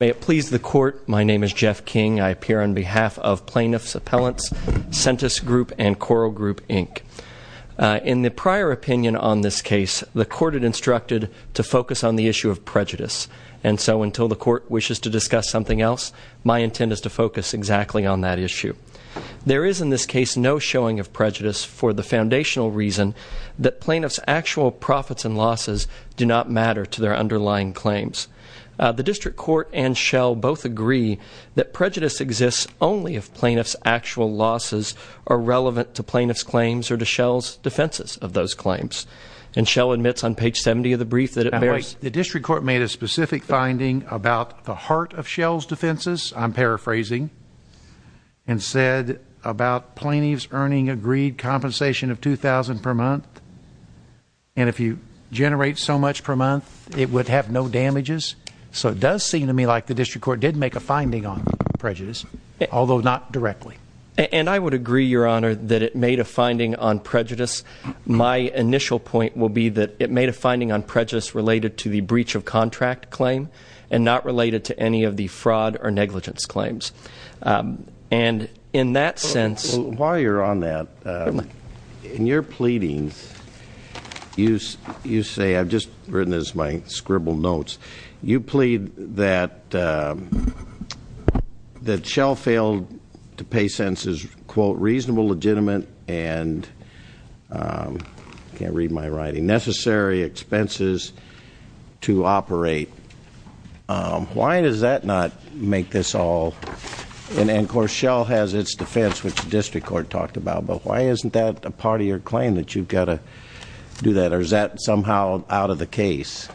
May it please the Court, my name is Jeff King. I appear on behalf of Plaintiffs' Appellants, Sentence Group, and Coral Group, Inc. In the prior opinion on this case, the Court had instructed to focus on the issue of prejudice. And so, until the Court wishes to discuss something else, my intent is to focus exactly on that issue. There is, in this case, no showing of prejudice for the foundational reason that Plaintiffs' actual profits and losses do not matter to their underlying claims. The District Court and Schell both agree that prejudice exists only if Plaintiffs' actual losses are relevant to Plaintiffs' claims or to Schell's defenses of those claims. And Schell admits on page 70 of the brief that it bears... Now wait, the District Court made a specific finding about the heart of Schell's defenses, I'm paraphrasing, and said about Plaintiffs' earning agreed compensation of $2,000 per month. And if you generate so much per month, it would have no damages? So it does seem to me like the District Court did make a finding on prejudice, although not directly. And I would agree, Your Honor, that it made a finding on prejudice. My initial point will be that it made a finding on prejudice related to the breach of contract claim and not related to any of the fraud or negligence claims. And in that sense... In your pleadings, you say, I've just written this in my scribbled notes, you plead that Schell failed to pay sentences, quote, reasonable, legitimate, and, can't read my writing, necessary expenses to operate. Why does that not make this all... Of course, Schell has its defense, which the District Court talked about, but why isn't that a part of your claim that you've got to do that, or is that somehow out of the case?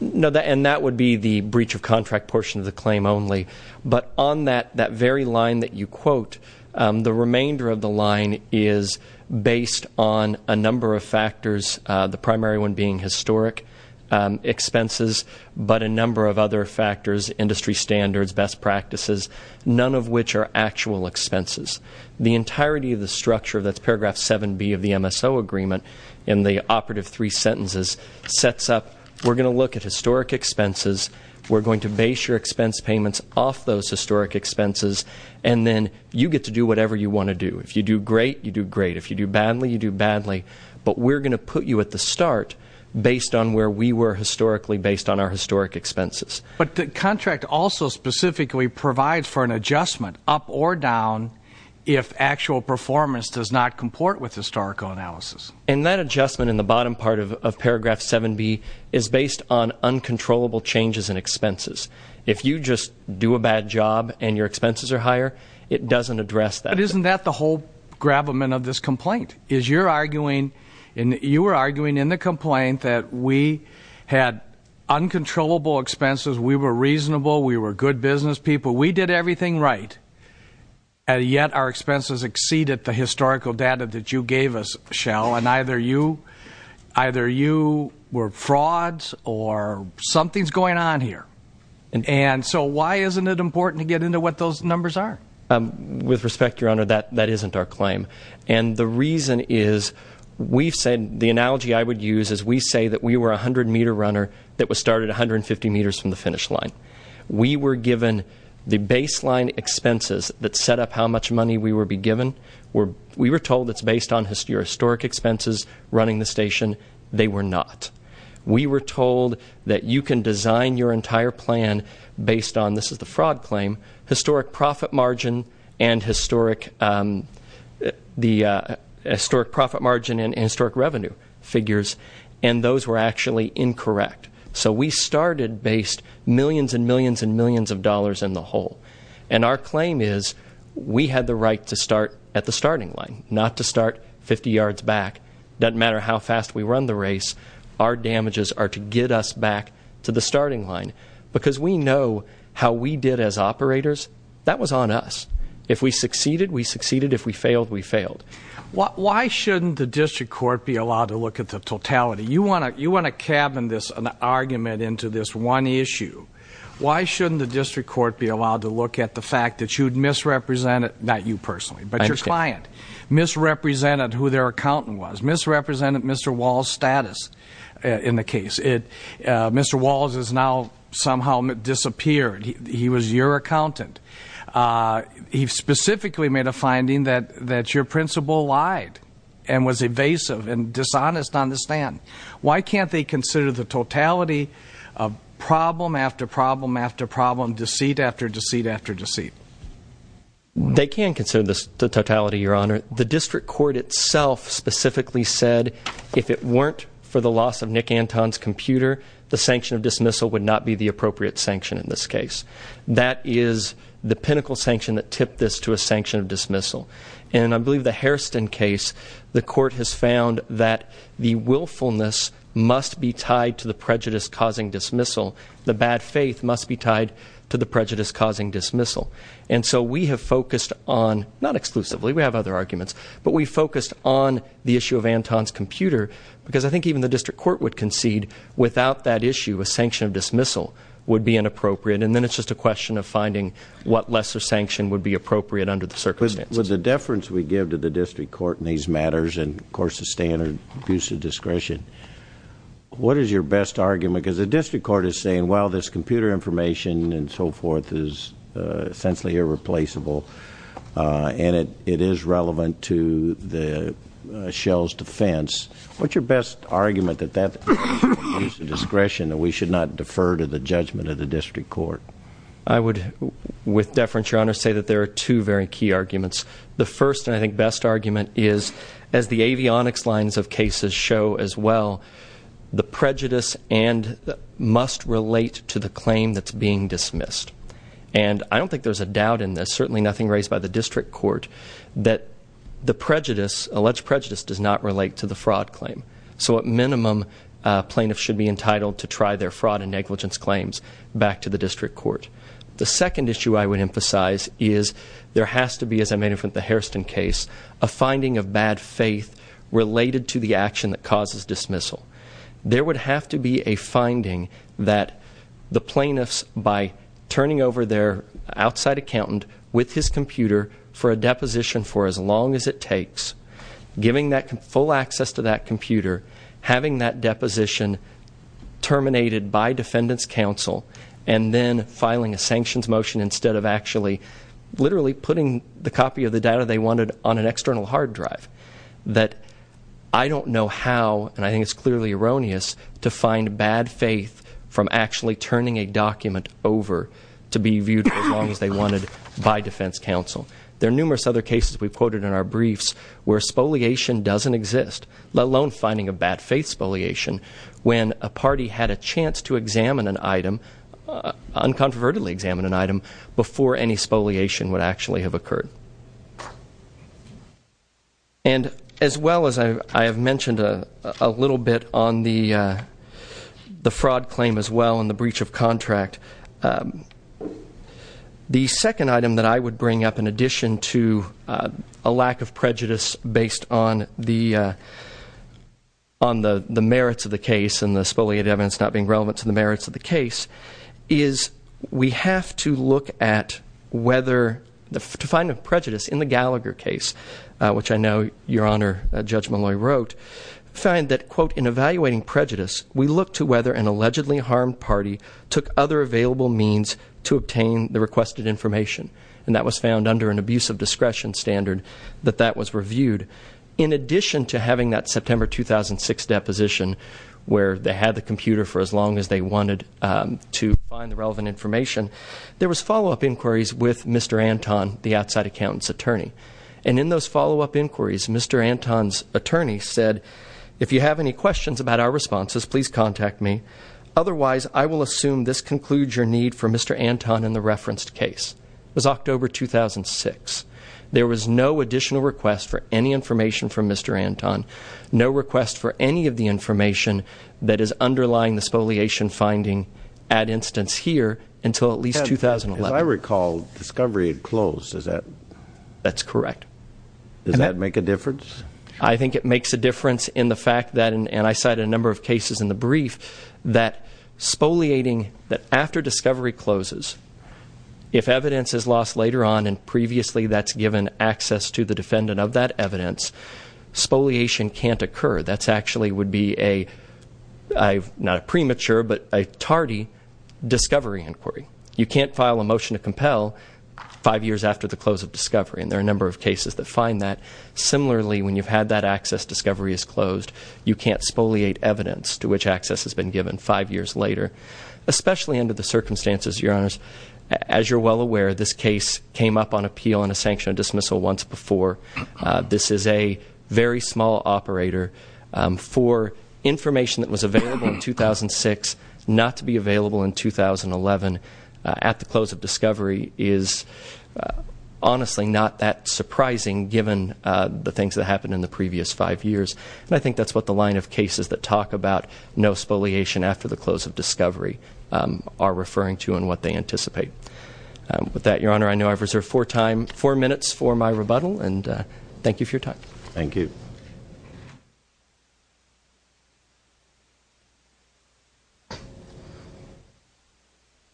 No, and that would be the breach of contract portion of the claim only. But on that very line that you quote, the remainder of the line is based on a number of factors, the primary one being historic expenses, but a number of other factors, industry standards, best practices, none of which are actual expenses. The entirety of the structure, that's paragraph 7B of the MSO agreement in the operative three sentences, sets up we're going to look at historic expenses, we're going to base your expense payments off those historic expenses, and then you get to do whatever you want to do. If you do great, you do great. If you do badly, you do badly. But we're going to put you at the start based on where we were historically based on our historic expenses. But the contract also specifically provides for an adjustment up or down if actual performance does not comport with historical analysis. And that adjustment in the bottom part of paragraph 7B is based on uncontrollable changes in expenses. If you just do a bad job and your expenses are higher, it doesn't address that. But isn't that the whole gravamen of this complaint? Is you're arguing and you were arguing in the complaint that we had uncontrollable expenses, we were reasonable, we were good business people, we did everything right, and yet our expenses exceeded the historical data that you gave us, Shell, and either you were frauds or something's going on here. And so why isn't it important to get into what those numbers are? With respect, Your Honor, that isn't our claim. And the reason is we've said the analogy I would use is we say that we were a 100-meter runner that was started 150 meters from the finish line. We were given the baseline expenses that set up how much money we would be given. We were told it's based on your historic expenses running the station. They were not. We were told that you can design your entire plan based on, this is the fraud claim, historic profit margin and historic revenue figures, and those were actually incorrect. So we started based millions and millions and millions of dollars in the hole. And our claim is we had the right to start at the starting line, not to start 50 yards back. It doesn't matter how fast we run the race. Our damages are to get us back to the starting line. Because we know how we did as operators. That was on us. If we succeeded, we succeeded. If we failed, we failed. Why shouldn't the district court be allowed to look at the totality? You want to cabin this argument into this one issue. Why shouldn't the district court be allowed to look at the fact that you'd misrepresented, not you personally, but your client, misrepresented who their accountant was, misrepresented Mr. Wall's status in the case. Mr. Wall has now somehow disappeared. He was your accountant. He specifically made a finding that your principal lied and was evasive and dishonest on the stand. Why can't they consider the totality of problem after problem after problem, deceit after deceit after deceit? They can consider the totality, Your Honor. The district court itself specifically said if it weren't for the loss of Nick Anton's computer, the sanction of dismissal would not be the appropriate sanction in this case. That is the pinnacle sanction that tipped this to a sanction of dismissal. And I believe the Hairston case, the court has found that the willfulness must be tied to the prejudice causing dismissal. The bad faith must be tied to the prejudice causing dismissal. And so we have focused on, not exclusively, we have other arguments, but we focused on the issue of Anton's computer because I think even the district court would concede without that issue a sanction of dismissal would be inappropriate. And then it's just a question of finding what lesser sanction would be appropriate under the circumstances. With the deference we give to the district court in these matters and, of course, the standard abuse of discretion, what is your best argument? Because the district court is saying, well, this computer information and so forth is essentially irreplaceable and it is relevant to Shell's defense. What's your best argument that that abuse of discretion that we should not defer to the judgment of the district court? I would, with deference, Your Honor, say that there are two very key arguments. The first and I think best argument is, as the avionics lines of cases show as well, the prejudice must relate to the claim that's being dismissed. And I don't think there's a doubt in this, certainly nothing raised by the district court, that the alleged prejudice does not relate to the fraud claim. So at minimum, plaintiffs should be entitled to try their fraud and negligence claims back to the district court. The second issue I would emphasize is there has to be, as I made it with the Hairston case, a finding of bad faith related to the action that causes dismissal. There would have to be a finding that the plaintiffs, by turning over their outside accountant with his computer for a deposition for as long as it takes, giving that full access to that computer, having that deposition terminated by defendant's counsel, and then filing a sanctions motion instead of actually literally putting the copy of the data they wanted on an external hard drive. That I don't know how, and I think it's clearly erroneous, to find bad faith from actually turning a document over to be viewed as long as they wanted by defense counsel. There are numerous other cases we've quoted in our briefs where spoliation doesn't exist, let alone finding a bad faith spoliation when a party had a chance to examine an item, uncontrovertedly examine an item, before any spoliation would actually have occurred. And as well as I have mentioned a little bit on the fraud claim as well and the breach of contract, the second item that I would bring up in addition to a lack of prejudice based on the merits of the case and the spoliated evidence not being relevant to the merits of the case, is we have to look at whether, to find a prejudice in the Gallagher case, which I know Your Honor, Judge Malloy wrote, find that, quote, in evaluating prejudice, we look to whether an allegedly harmed party took other available means to obtain the requested information. And that was found under an abuse of discretion standard that that was reviewed. In addition to having that September 2006 deposition, where they had the computer for as long as they wanted to find the relevant information, there was follow-up inquiries with Mr. Anton, the outside accountant's attorney. And in those follow-up inquiries, Mr. Anton's attorney said, if you have any questions about our responses, please contact me. Otherwise, I will assume this concludes your need for Mr. Anton in the referenced case. It was October 2006. There was no additional request for any information from Mr. Anton, no request for any of the information that is underlying the spoliation finding, at instance here, until at least 2011. As I recall, discovery had closed. Is that- That's correct. Does that make a difference? I think it makes a difference in the fact that, and I cited a number of cases in the brief, that spoliating, that after discovery closes, if evidence is lost later on and previously that's given access to the defendant of that evidence, spoliation can't occur. That actually would be a, not a premature, but a tardy discovery inquiry. You can't file a motion to compel five years after the close of discovery, and there are a number of cases that find that. Similarly, when you've had that access discovery is closed, you can't spoliate evidence to which access has been given five years later, especially under the circumstances, Your Honors. As you're well aware, this case came up on appeal and a sanctioned dismissal once before. This is a very small operator. For information that was available in 2006 not to be available in 2011 at the close of discovery is honestly not that surprising given the things that happened in the previous five years. And I think that's what the line of cases that talk about no spoliation after the close of discovery are referring to and what they anticipate. With that, Your Honor, I know I've reserved four minutes for my rebuttal, and thank you for your time. Thank you.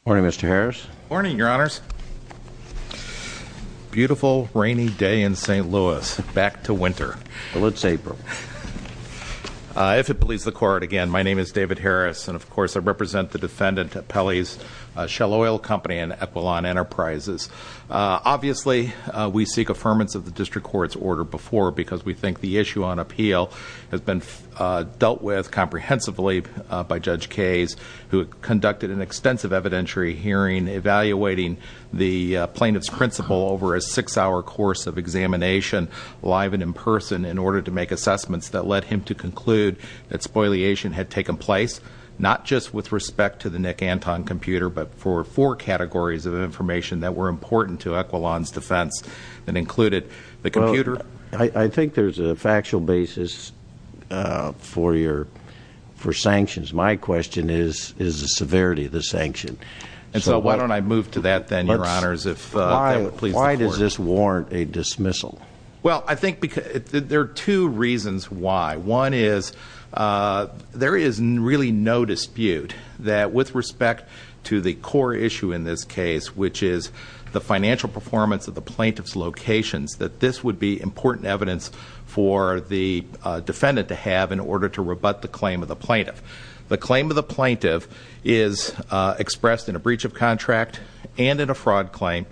Morning, Mr. Harris. Morning, Your Honors. Beautiful rainy day in St. Louis, back to winter. Well, it's April. If it pleases the court, again, my name is David Harris, and, of course, I represent the defendant Pelley's Shell Oil Company and Equilon Enterprises. Obviously, we seek affirmance of the district court's order before, because we think the issue on appeal has been dealt with comprehensively by Judge Kayes, who conducted an extensive evidentiary hearing evaluating the plaintiff's principle over a six-hour course of examination live and in person in order to make assessments that led him to conclude that spoliation had taken place not just with respect to the Nick Anton computer, but for four categories of information that were important to Equilon's defense that included the computer. Well, I think there's a factual basis for sanctions. My question is the severity of the sanction. And so why don't I move to that then, Your Honors, if that pleases the court? Why does this warrant a dismissal? Well, I think there are two reasons why. One is there is really no dispute that with respect to the core issue in this case, which is the financial performance of the plaintiff's locations, that this would be important evidence for the defendant to have in order to rebut the claim of the plaintiff. The claim of the plaintiff is expressed in a breach of contract and in a fraud claim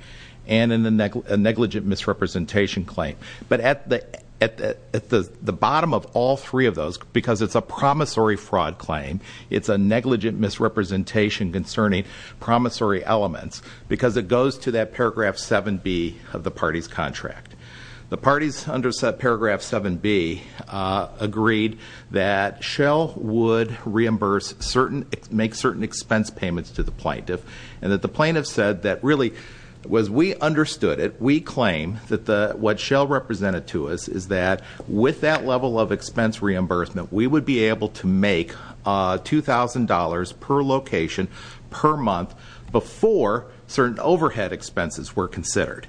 and in a negligent misrepresentation claim. But at the bottom of all three of those, because it's a promissory fraud claim, it's a negligent misrepresentation concerning promissory elements because it goes to that paragraph 7B of the party's contract. The parties under paragraph 7B agreed that Shell would reimburse certain, make certain expense payments to the plaintiff. And that the plaintiff said that really was we understood it. We claim that what Shell represented to us is that with that level of expense reimbursement, we would be able to make $2,000 per location, per month, before certain overhead expenses were considered.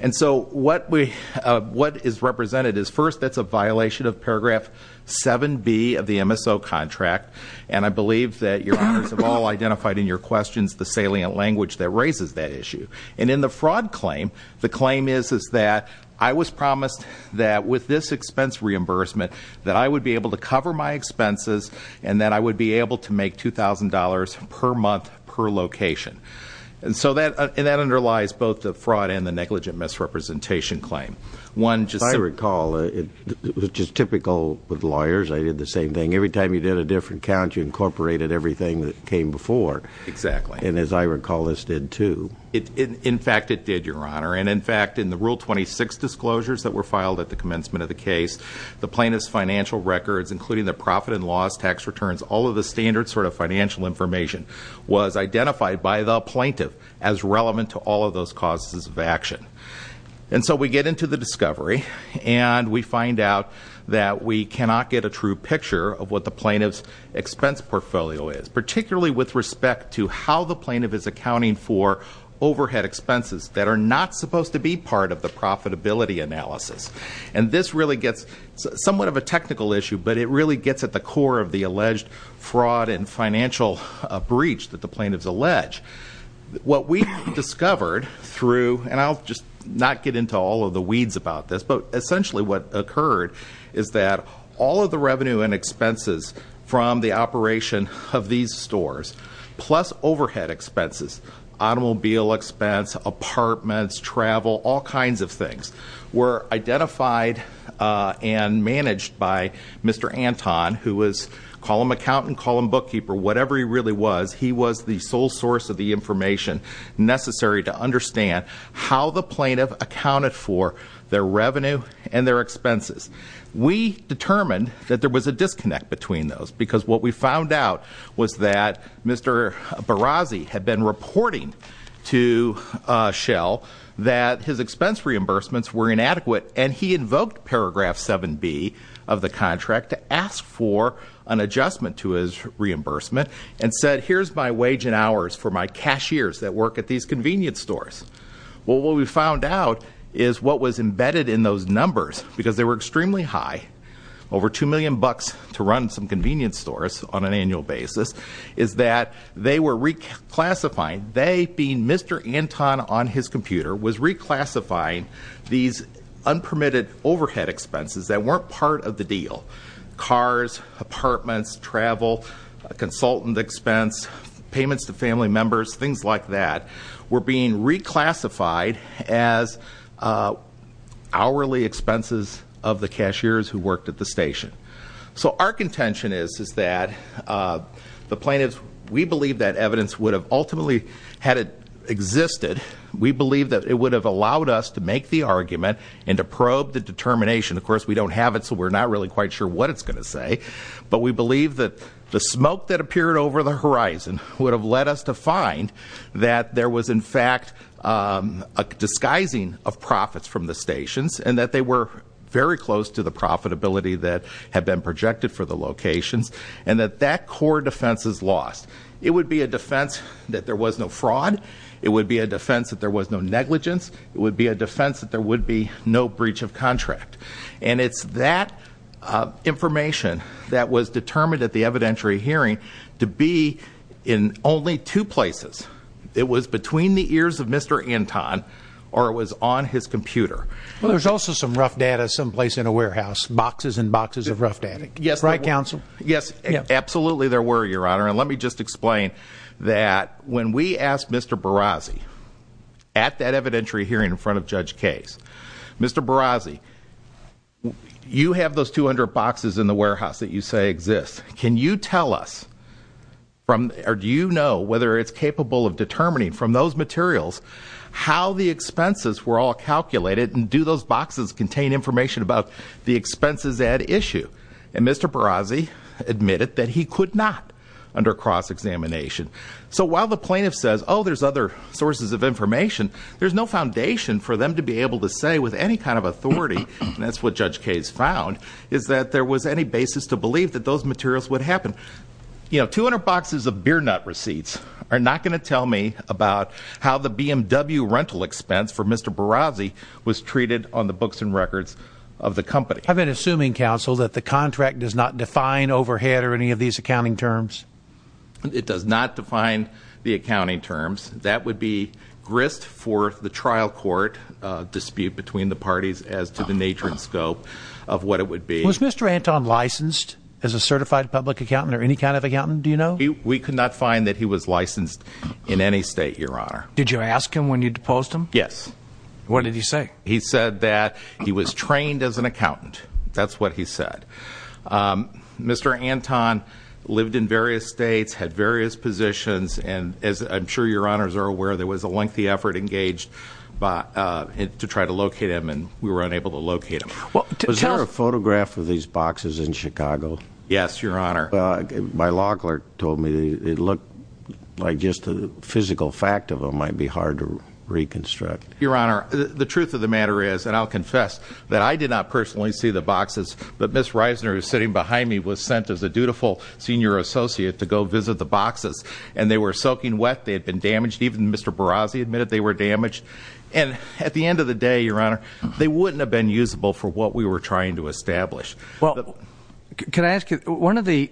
And so what is represented is first, that's a violation of paragraph 7B of the MSO contract. And I believe that Your Honors have all identified in your questions the salient language that raises that issue. And in the fraud claim, the claim is that I was promised that with this expense reimbursement, that I would be able to cover my expenses and that I would be able to make $2,000 per month, per location. And that underlies both the fraud and the negligent misrepresentation claim. If I recall, it was just typical with lawyers. I did the same thing. Every time you did a different count, you incorporated everything that came before. Exactly. And as I recall, this did too. In fact, it did, Your Honor. And in fact, in the Rule 26 disclosures that were filed at the commencement of the case, the plaintiff's financial records, including their profit and loss, tax returns, all of the standard sort of financial information, was identified by the plaintiff as relevant to all of those causes of action. And so we get into the discovery and we find out that we cannot get a true picture of what the plaintiff's expense portfolio is, particularly with respect to how the plaintiff is accounting for overhead expenses that are not supposed to be part of the profitability analysis. And this really gets somewhat of a technical issue, but it really gets at the core of the alleged fraud and financial breach that the plaintiff's alleged. What we discovered through, and I'll just not get into all of the weeds about this, but essentially what occurred is that all of the revenue and expenses from the operation of these stores, plus overhead expenses, automobile expense, apartments, travel, all kinds of things, were identified and managed by Mr. Anton, who was, call him accountant, call him bookkeeper, whatever he really was, he was the sole source of the information necessary to understand how the plaintiff accounted for their revenue and their expenses. We determined that there was a disconnect between those, because what we found out was that Mr. Barazzi had been reporting to Shell that his expense reimbursements were inadequate. And he invoked paragraph 7B of the contract to ask for an adjustment to his reimbursement, and said, here's my wage and hours for my cashiers that work at these convenience stores. Well, what we found out is what was embedded in those numbers, because they were extremely high, over 2 million bucks to run some convenience stores on an annual basis, is that they were reclassifying. They, being Mr. Anton on his computer, was reclassifying these unpermitted overhead expenses that weren't part of the deal. Cars, apartments, travel, consultant expense, payments to family members, things like that were being reclassified as hourly expenses of the cashiers who worked at the station. So our contention is that the plaintiffs, we believe that evidence would have ultimately had it existed. We believe that it would have allowed us to make the argument and to probe the determination. Of course, we don't have it, so we're not really quite sure what it's going to say. But we believe that the smoke that appeared over the horizon would have led us to find that there was, in fact, a disguising of profits from the stations, and that they were very close to the profitability that had been projected for the locations. And that that core defense is lost. It would be a defense that there was no fraud. It would be a defense that there was no negligence. It would be a defense that there would be no breach of contract. And it's that information that was determined at the evidentiary hearing to be in only two places. It was between the ears of Mr. Anton, or it was on his computer. Well, there's also some rough data someplace in a warehouse, boxes and boxes of rough data. Right, counsel? Yes, absolutely there were, Your Honor. And let me just explain that when we asked Mr. Barazzi at that evidentiary hearing in front of Judge Case, Mr. Barazzi, you have those 200 boxes in the warehouse that you say exist. Can you tell us from, or do you know whether it's capable of determining from those materials how the expenses were all calculated, and do those boxes contain information about the expenses at issue? And Mr. Barazzi admitted that he could not under cross-examination. So while the plaintiff says, oh, there's other sources of information, there's no foundation for them to be able to say with any kind of authority, and that's what Judge Case found, is that there was any basis to believe that those materials would happen. You know, 200 boxes of beer nut receipts are not going to tell me about how the BMW rental expense for Mr. Barazzi was treated on the books and records of the company. I've been assuming, Counsel, that the contract does not define overhead or any of these accounting terms. It does not define the accounting terms. That would be grist for the trial court dispute between the parties as to the nature and scope of what it would be. Was Mr. Anton licensed as a certified public accountant or any kind of accountant, do you know? We could not find that he was licensed in any state, Your Honor. Did you ask him when you deposed him? Yes. What did he say? He said that he was trained as an accountant. That's what he said. Mr. Anton lived in various states, had various positions, and as I'm sure Your Honors are aware, there was a lengthy effort engaged to try to locate him, and we were unable to locate him. Was there a photograph of these boxes in Chicago? Yes, Your Honor. My law clerk told me it looked like just the physical fact of them might be hard to reconstruct. Your Honor, the truth of the matter is, and I'll confess that I did not personally see the boxes, but Ms. Reisner, who is sitting behind me, was sent as a dutiful senior associate to go visit the boxes, and they were soaking wet. They had been damaged. Even Mr. Barazzi admitted they were damaged. And at the end of the day, Your Honor, they wouldn't have been usable for what we were trying to establish. Well, can I ask you, one of the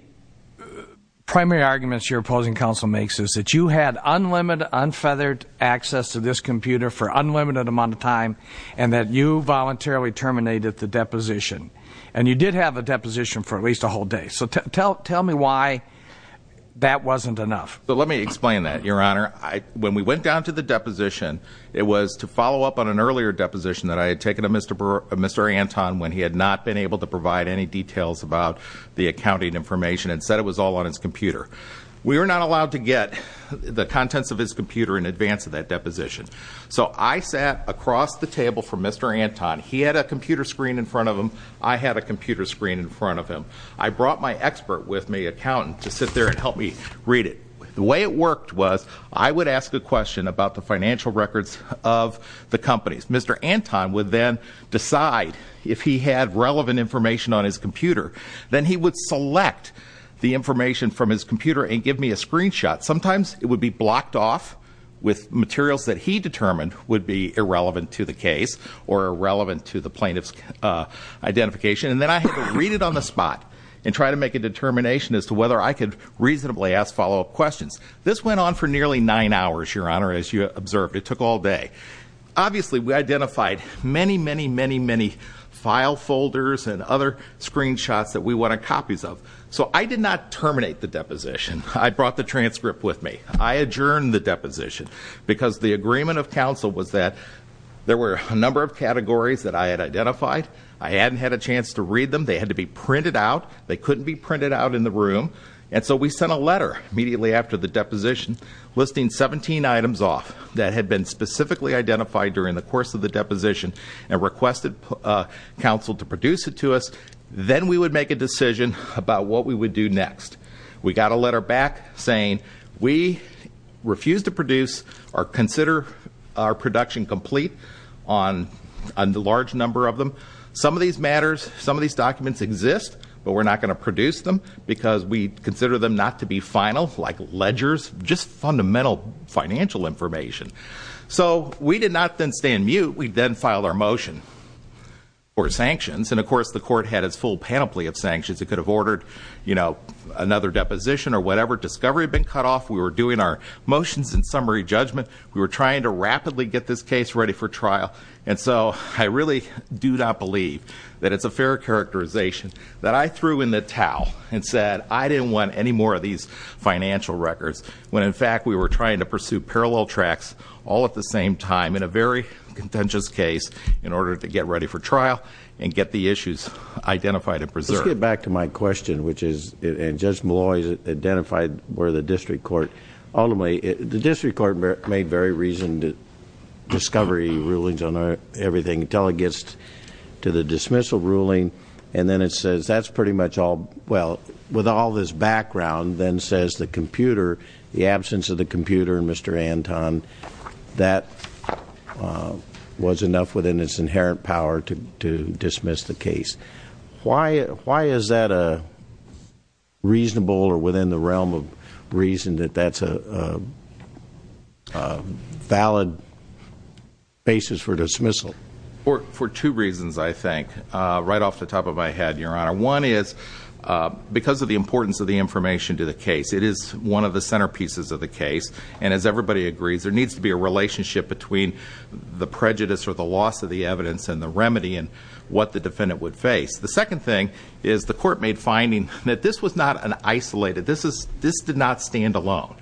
primary arguments your opposing counsel makes is that you had unlimited, unfeathered access to this computer for an unlimited amount of time and that you voluntarily terminated the deposition. And you did have a deposition for at least a whole day. So tell me why that wasn't enough. Let me explain that, Your Honor. When we went down to the deposition, it was to follow up on an earlier deposition that I had taken of Mr. Anton when he had not been able to provide any details about the accounting information and said it was all on his computer. We were not allowed to get the contents of his computer in advance of that deposition. So I sat across the table from Mr. Anton. He had a computer screen in front of him. I had a computer screen in front of him. I brought my expert with me, an accountant, to sit there and help me read it. The way it worked was I would ask a question about the financial records of the companies. Mr. Anton would then decide if he had relevant information on his computer. Then he would select the information from his computer and give me a screenshot. Sometimes it would be blocked off with materials that he determined would be irrelevant to the case or irrelevant to the plaintiff's identification. And then I had to read it on the spot and try to make a determination as to whether I could reasonably ask follow-up questions. This went on for nearly nine hours, Your Honor, as you observed. It took all day. Obviously, we identified many, many, many, many file folders and other screenshots that we wanted copies of. So I did not terminate the deposition. I brought the transcript with me. I adjourned the deposition because the agreement of counsel was that there were a number of categories that I had identified. I hadn't had a chance to read them. They had to be printed out. They couldn't be printed out in the room. And so we sent a letter immediately after the deposition listing 17 items off that had been specifically identified during the course of the deposition and requested counsel to produce it to us. Then we would make a decision about what we would do next. We got a letter back saying we refuse to produce or consider our production complete on a large number of them. Some of these matters, some of these documents exist, but we're not going to produce them because we consider them not to be final, like ledgers, just fundamental financial information. So we did not then stay in mute. We then filed our motion for sanctions. And, of course, the court had its full panoply of sanctions. It could have ordered another deposition or whatever. Discovery had been cut off. We were doing our motions and summary judgment. We were trying to rapidly get this case ready for trial. And so I really do not believe that it's a fair characterization. That I threw in the towel and said I didn't want any more of these financial records when, in fact, we were trying to pursue parallel tracks all at the same time in a very contentious case in order to get ready for trial and get the issues identified and preserved. Let's get back to my question, which is, and Judge Malloy has identified where the district court, ultimately, the district court made very reasoned discovery rulings on everything until it gets to the dismissal ruling, and then it says that's pretty much all. Well, with all this background, then says the computer, the absence of the computer, and Mr. Anton, that was enough within its inherent power to dismiss the case. Why is that reasonable or within the realm of reason that that's a valid basis for dismissal? For two reasons, I think, right off the top of my head, Your Honor. One is because of the importance of the information to the case. It is one of the centerpieces of the case. And as everybody agrees, there needs to be a relationship between the prejudice or the loss of the evidence and the remedy and what the defendant would face. The second thing is the court made finding that this was not an isolated. This did not stand alone.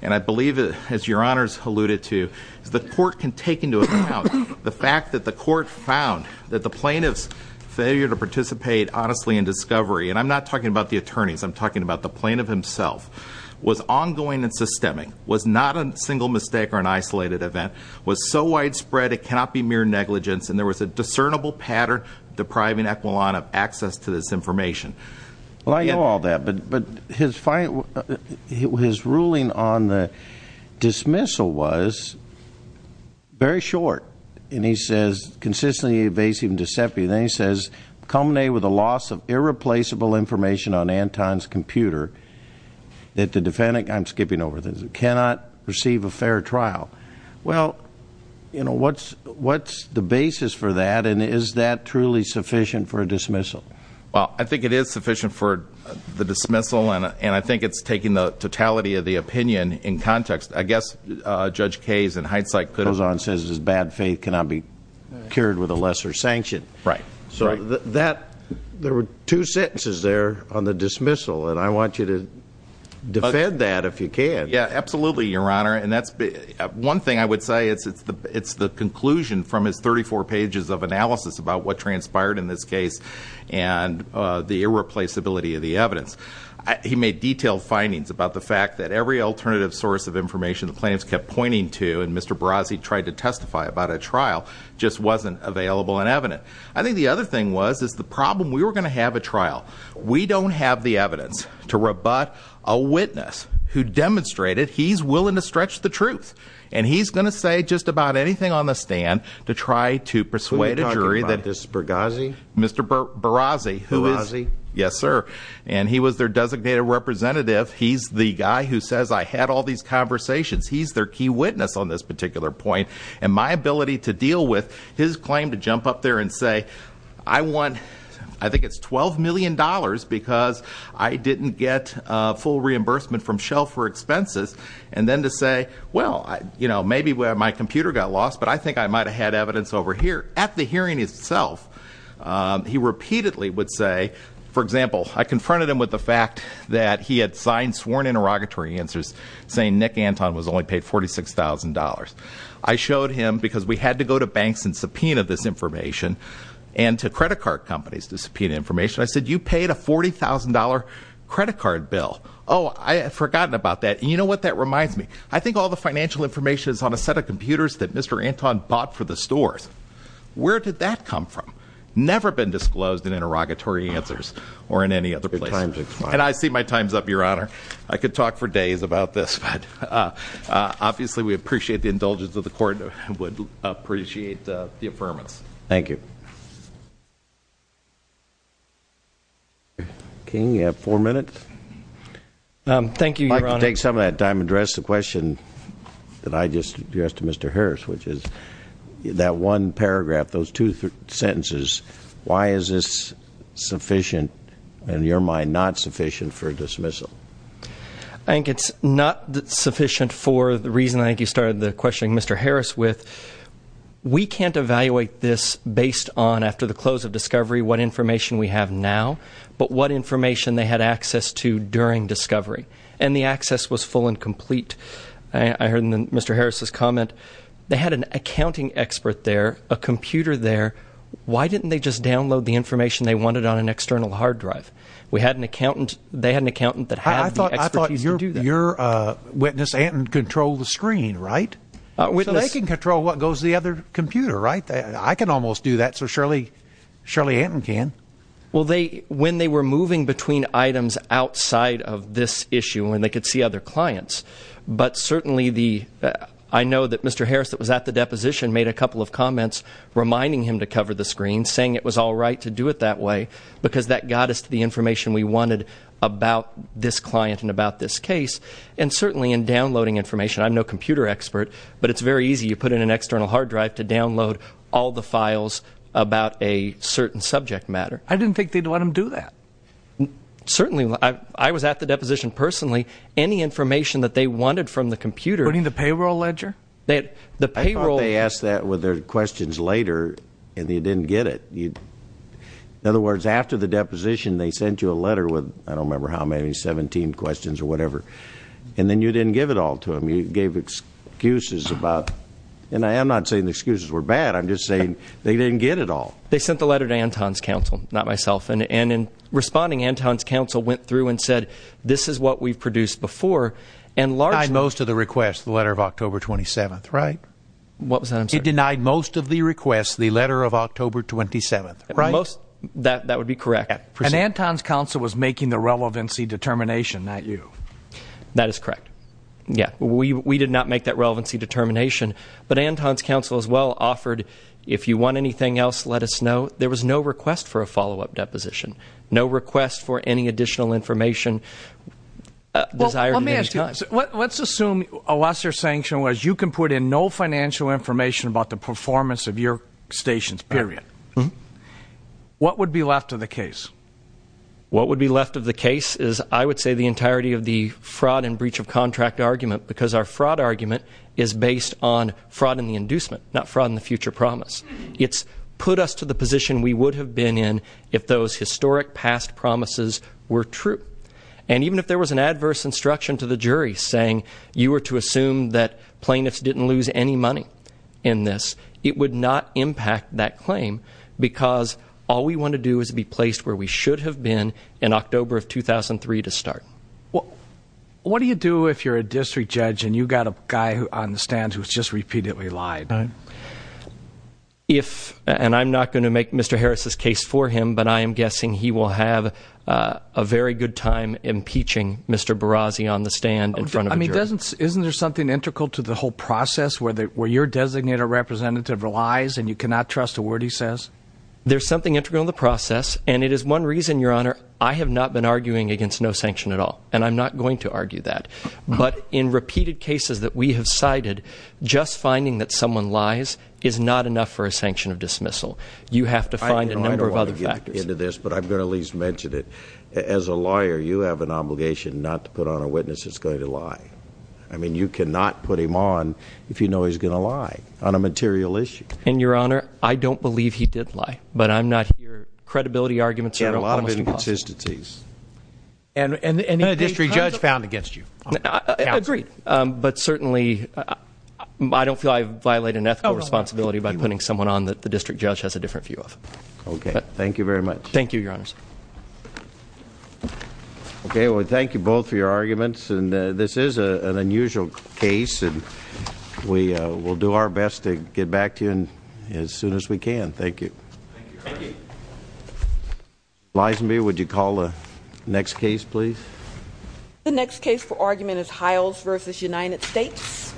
And I believe, as Your Honors alluded to, the court can take into account the fact that the court found that the plaintiff's failure to participate honestly in discovery, and I'm not talking about the attorneys. I'm talking about the plaintiff himself, was ongoing and systemic, was not a single mistake or an isolated event, was so widespread it cannot be mere negligence. And there was a discernible pattern depriving Equalan of access to this information. Well, I know all that, but his ruling on the dismissal was very short. And he says consistently evasive and deceptive. And then he says culminated with a loss of irreplaceable information on Anton's computer that the defendant, I'm skipping over this, cannot receive a fair trial. Well, you know, what's the basis for that? And is that truly sufficient for a dismissal? Well, I think it is sufficient for the dismissal, and I think it's taking the totality of the opinion in context. I guess Judge Kayes, in hindsight, could have ---- Poisson says his bad faith cannot be cured with a lesser sanction. Right. So there were two sentences there on the dismissal, and I want you to defend that if you can. Yeah, absolutely, Your Honor. And that's one thing I would say. It's the conclusion from his 34 pages of analysis about what transpired in this case and the irreplaceability of the evidence. He made detailed findings about the fact that every alternative source of information the plaintiffs kept pointing to and Mr. Barazzi tried to testify about at trial just wasn't available and evident. I think the other thing was is the problem, we were going to have a trial. We don't have the evidence to rebut a witness who demonstrated he's willing to stretch the truth. And he's going to say just about anything on the stand to try to persuade a jury that ---- Who are you talking about? This is Barazzi? Mr. Barazzi, who is ---- Barazzi? Yes, sir. And he was their designated representative. He's the guy who says I had all these conversations. He's their key witness on this particular point. And my ability to deal with his claim to jump up there and say I want, I think it's $12 million because I didn't get full reimbursement from Shell for expenses. And then to say, well, maybe my computer got lost, but I think I might have had evidence over here. At the hearing itself, he repeatedly would say, for example, I confronted him with the fact that he had signed sworn interrogatory answers saying Nick Anton was only paid $46,000. I showed him because we had to go to banks and subpoena this information and to credit card companies to subpoena information. I said, you paid a $40,000 credit card bill. Oh, I had forgotten about that. And you know what? That reminds me. I think all the financial information is on a set of computers that Mr. Anton bought for the stores. Where did that come from? Never been disclosed in interrogatory answers or in any other place. And I see my time's up, Your Honor. I could talk for days about this. Obviously, we appreciate the indulgence of the court and would appreciate the affirmance. Thank you. King, you have four minutes. Thank you, Your Honor. I'd like to take some of that time to address the question that I just addressed to Mr. Harris, which is that one paragraph, those two sentences, why is this sufficient in your mind not sufficient for dismissal? I think it's not sufficient for the reason I think you started the questioning, Mr. Harris, with. We can't evaluate this based on, after the close of discovery, what information we have now, but what information they had access to during discovery. And the access was full and complete. I heard Mr. Harris's comment. They had an accounting expert there, a computer there. Why didn't they just download the information they wanted on an external hard drive? We had an accountant. They had an accountant that had the expertise to do that. I thought your witness, Anton, controlled the screen, right? So they can control what goes to the other computer, right? I can almost do that, so surely Anton can. Well, when they were moving between items outside of this issue and they could see other clients, but certainly I know that Mr. Harris that was at the deposition made a couple of comments reminding him to cover the screen, saying it was all right to do it that way because that got us to the information we wanted about this client and about this case, and certainly in downloading information. I'm no computer expert, but it's very easy. You put in an external hard drive to download all the files about a certain subject matter. I didn't think they'd let them do that. Certainly. I was at the deposition personally. Any information that they wanted from the computer. Including the payroll ledger? I thought they asked that with their questions later and they didn't get it. In other words, after the deposition they sent you a letter with, I don't remember how many, 17 questions or whatever, and then you didn't give it all to them. You gave excuses about, and I am not saying the excuses were bad, I'm just saying they didn't get it all. They sent the letter to Anton's counsel, not myself, and in responding Anton's counsel went through and said this is what we've produced before. He denied most of the requests, the letter of October 27th, right? What was that, I'm sorry? He denied most of the requests, the letter of October 27th, right? That would be correct. And Anton's counsel was making the relevancy determination, not you. That is correct. We did not make that relevancy determination, but Anton's counsel as well offered, if you want anything else let us know. There was no request for a follow-up deposition. No request for any additional information. Let's assume a lesser sanction was you can put in no financial information about the performance of your stations, period. What would be left of the case? What would be left of the case is I would say the entirety of the fraud and breach of contract argument because our fraud argument is based on fraud in the inducement, not fraud in the future promise. It's put us to the position we would have been in if those historic past promises were true. And even if there was an adverse instruction to the jury saying you were to assume that plaintiffs didn't lose any money in this, it would not impact that claim because all we want to do is be placed where we should have been in October of 2003 to start. What do you do if you're a district judge and you've got a guy on the stand who has just repeatedly lied? If, and I'm not going to make Mr. Harris' case for him, but I am guessing he will have a very good time impeaching Mr. Barazzi on the stand in front of a jury. I mean, isn't there something integral to the whole process where your designated representative lies and you cannot trust a word he says? There's something integral in the process, and it is one reason, Your Honor, I have not been arguing against no sanction at all, and I'm not going to argue that. But in repeated cases that we have cited, just finding that someone lies is not enough for a sanction of dismissal. You have to find a number of other factors. I don't want to get into this, but I'm going to at least mention it. As a lawyer, you have an obligation not to put on a witness that's going to lie. I mean, you cannot put him on if you know he's going to lie on a material issue. And, Your Honor, I don't believe he did lie, but I'm not here. Credibility arguments are almost impossible. And a lot of inconsistencies. And a district judge found against you. Agreed, but certainly I don't feel I've violated an ethical responsibility by putting someone on that the district judge has a different view of. Okay. Thank you very much. Thank you, Your Honors. Okay. Well, thank you both for your arguments. And this is an unusual case, and we'll do our best to get back to you as soon as we can. Thank you. Thank you. Thank you. Ms. Leisenberg, would you call the next case, please? The next case for argument is Hiles v. United States.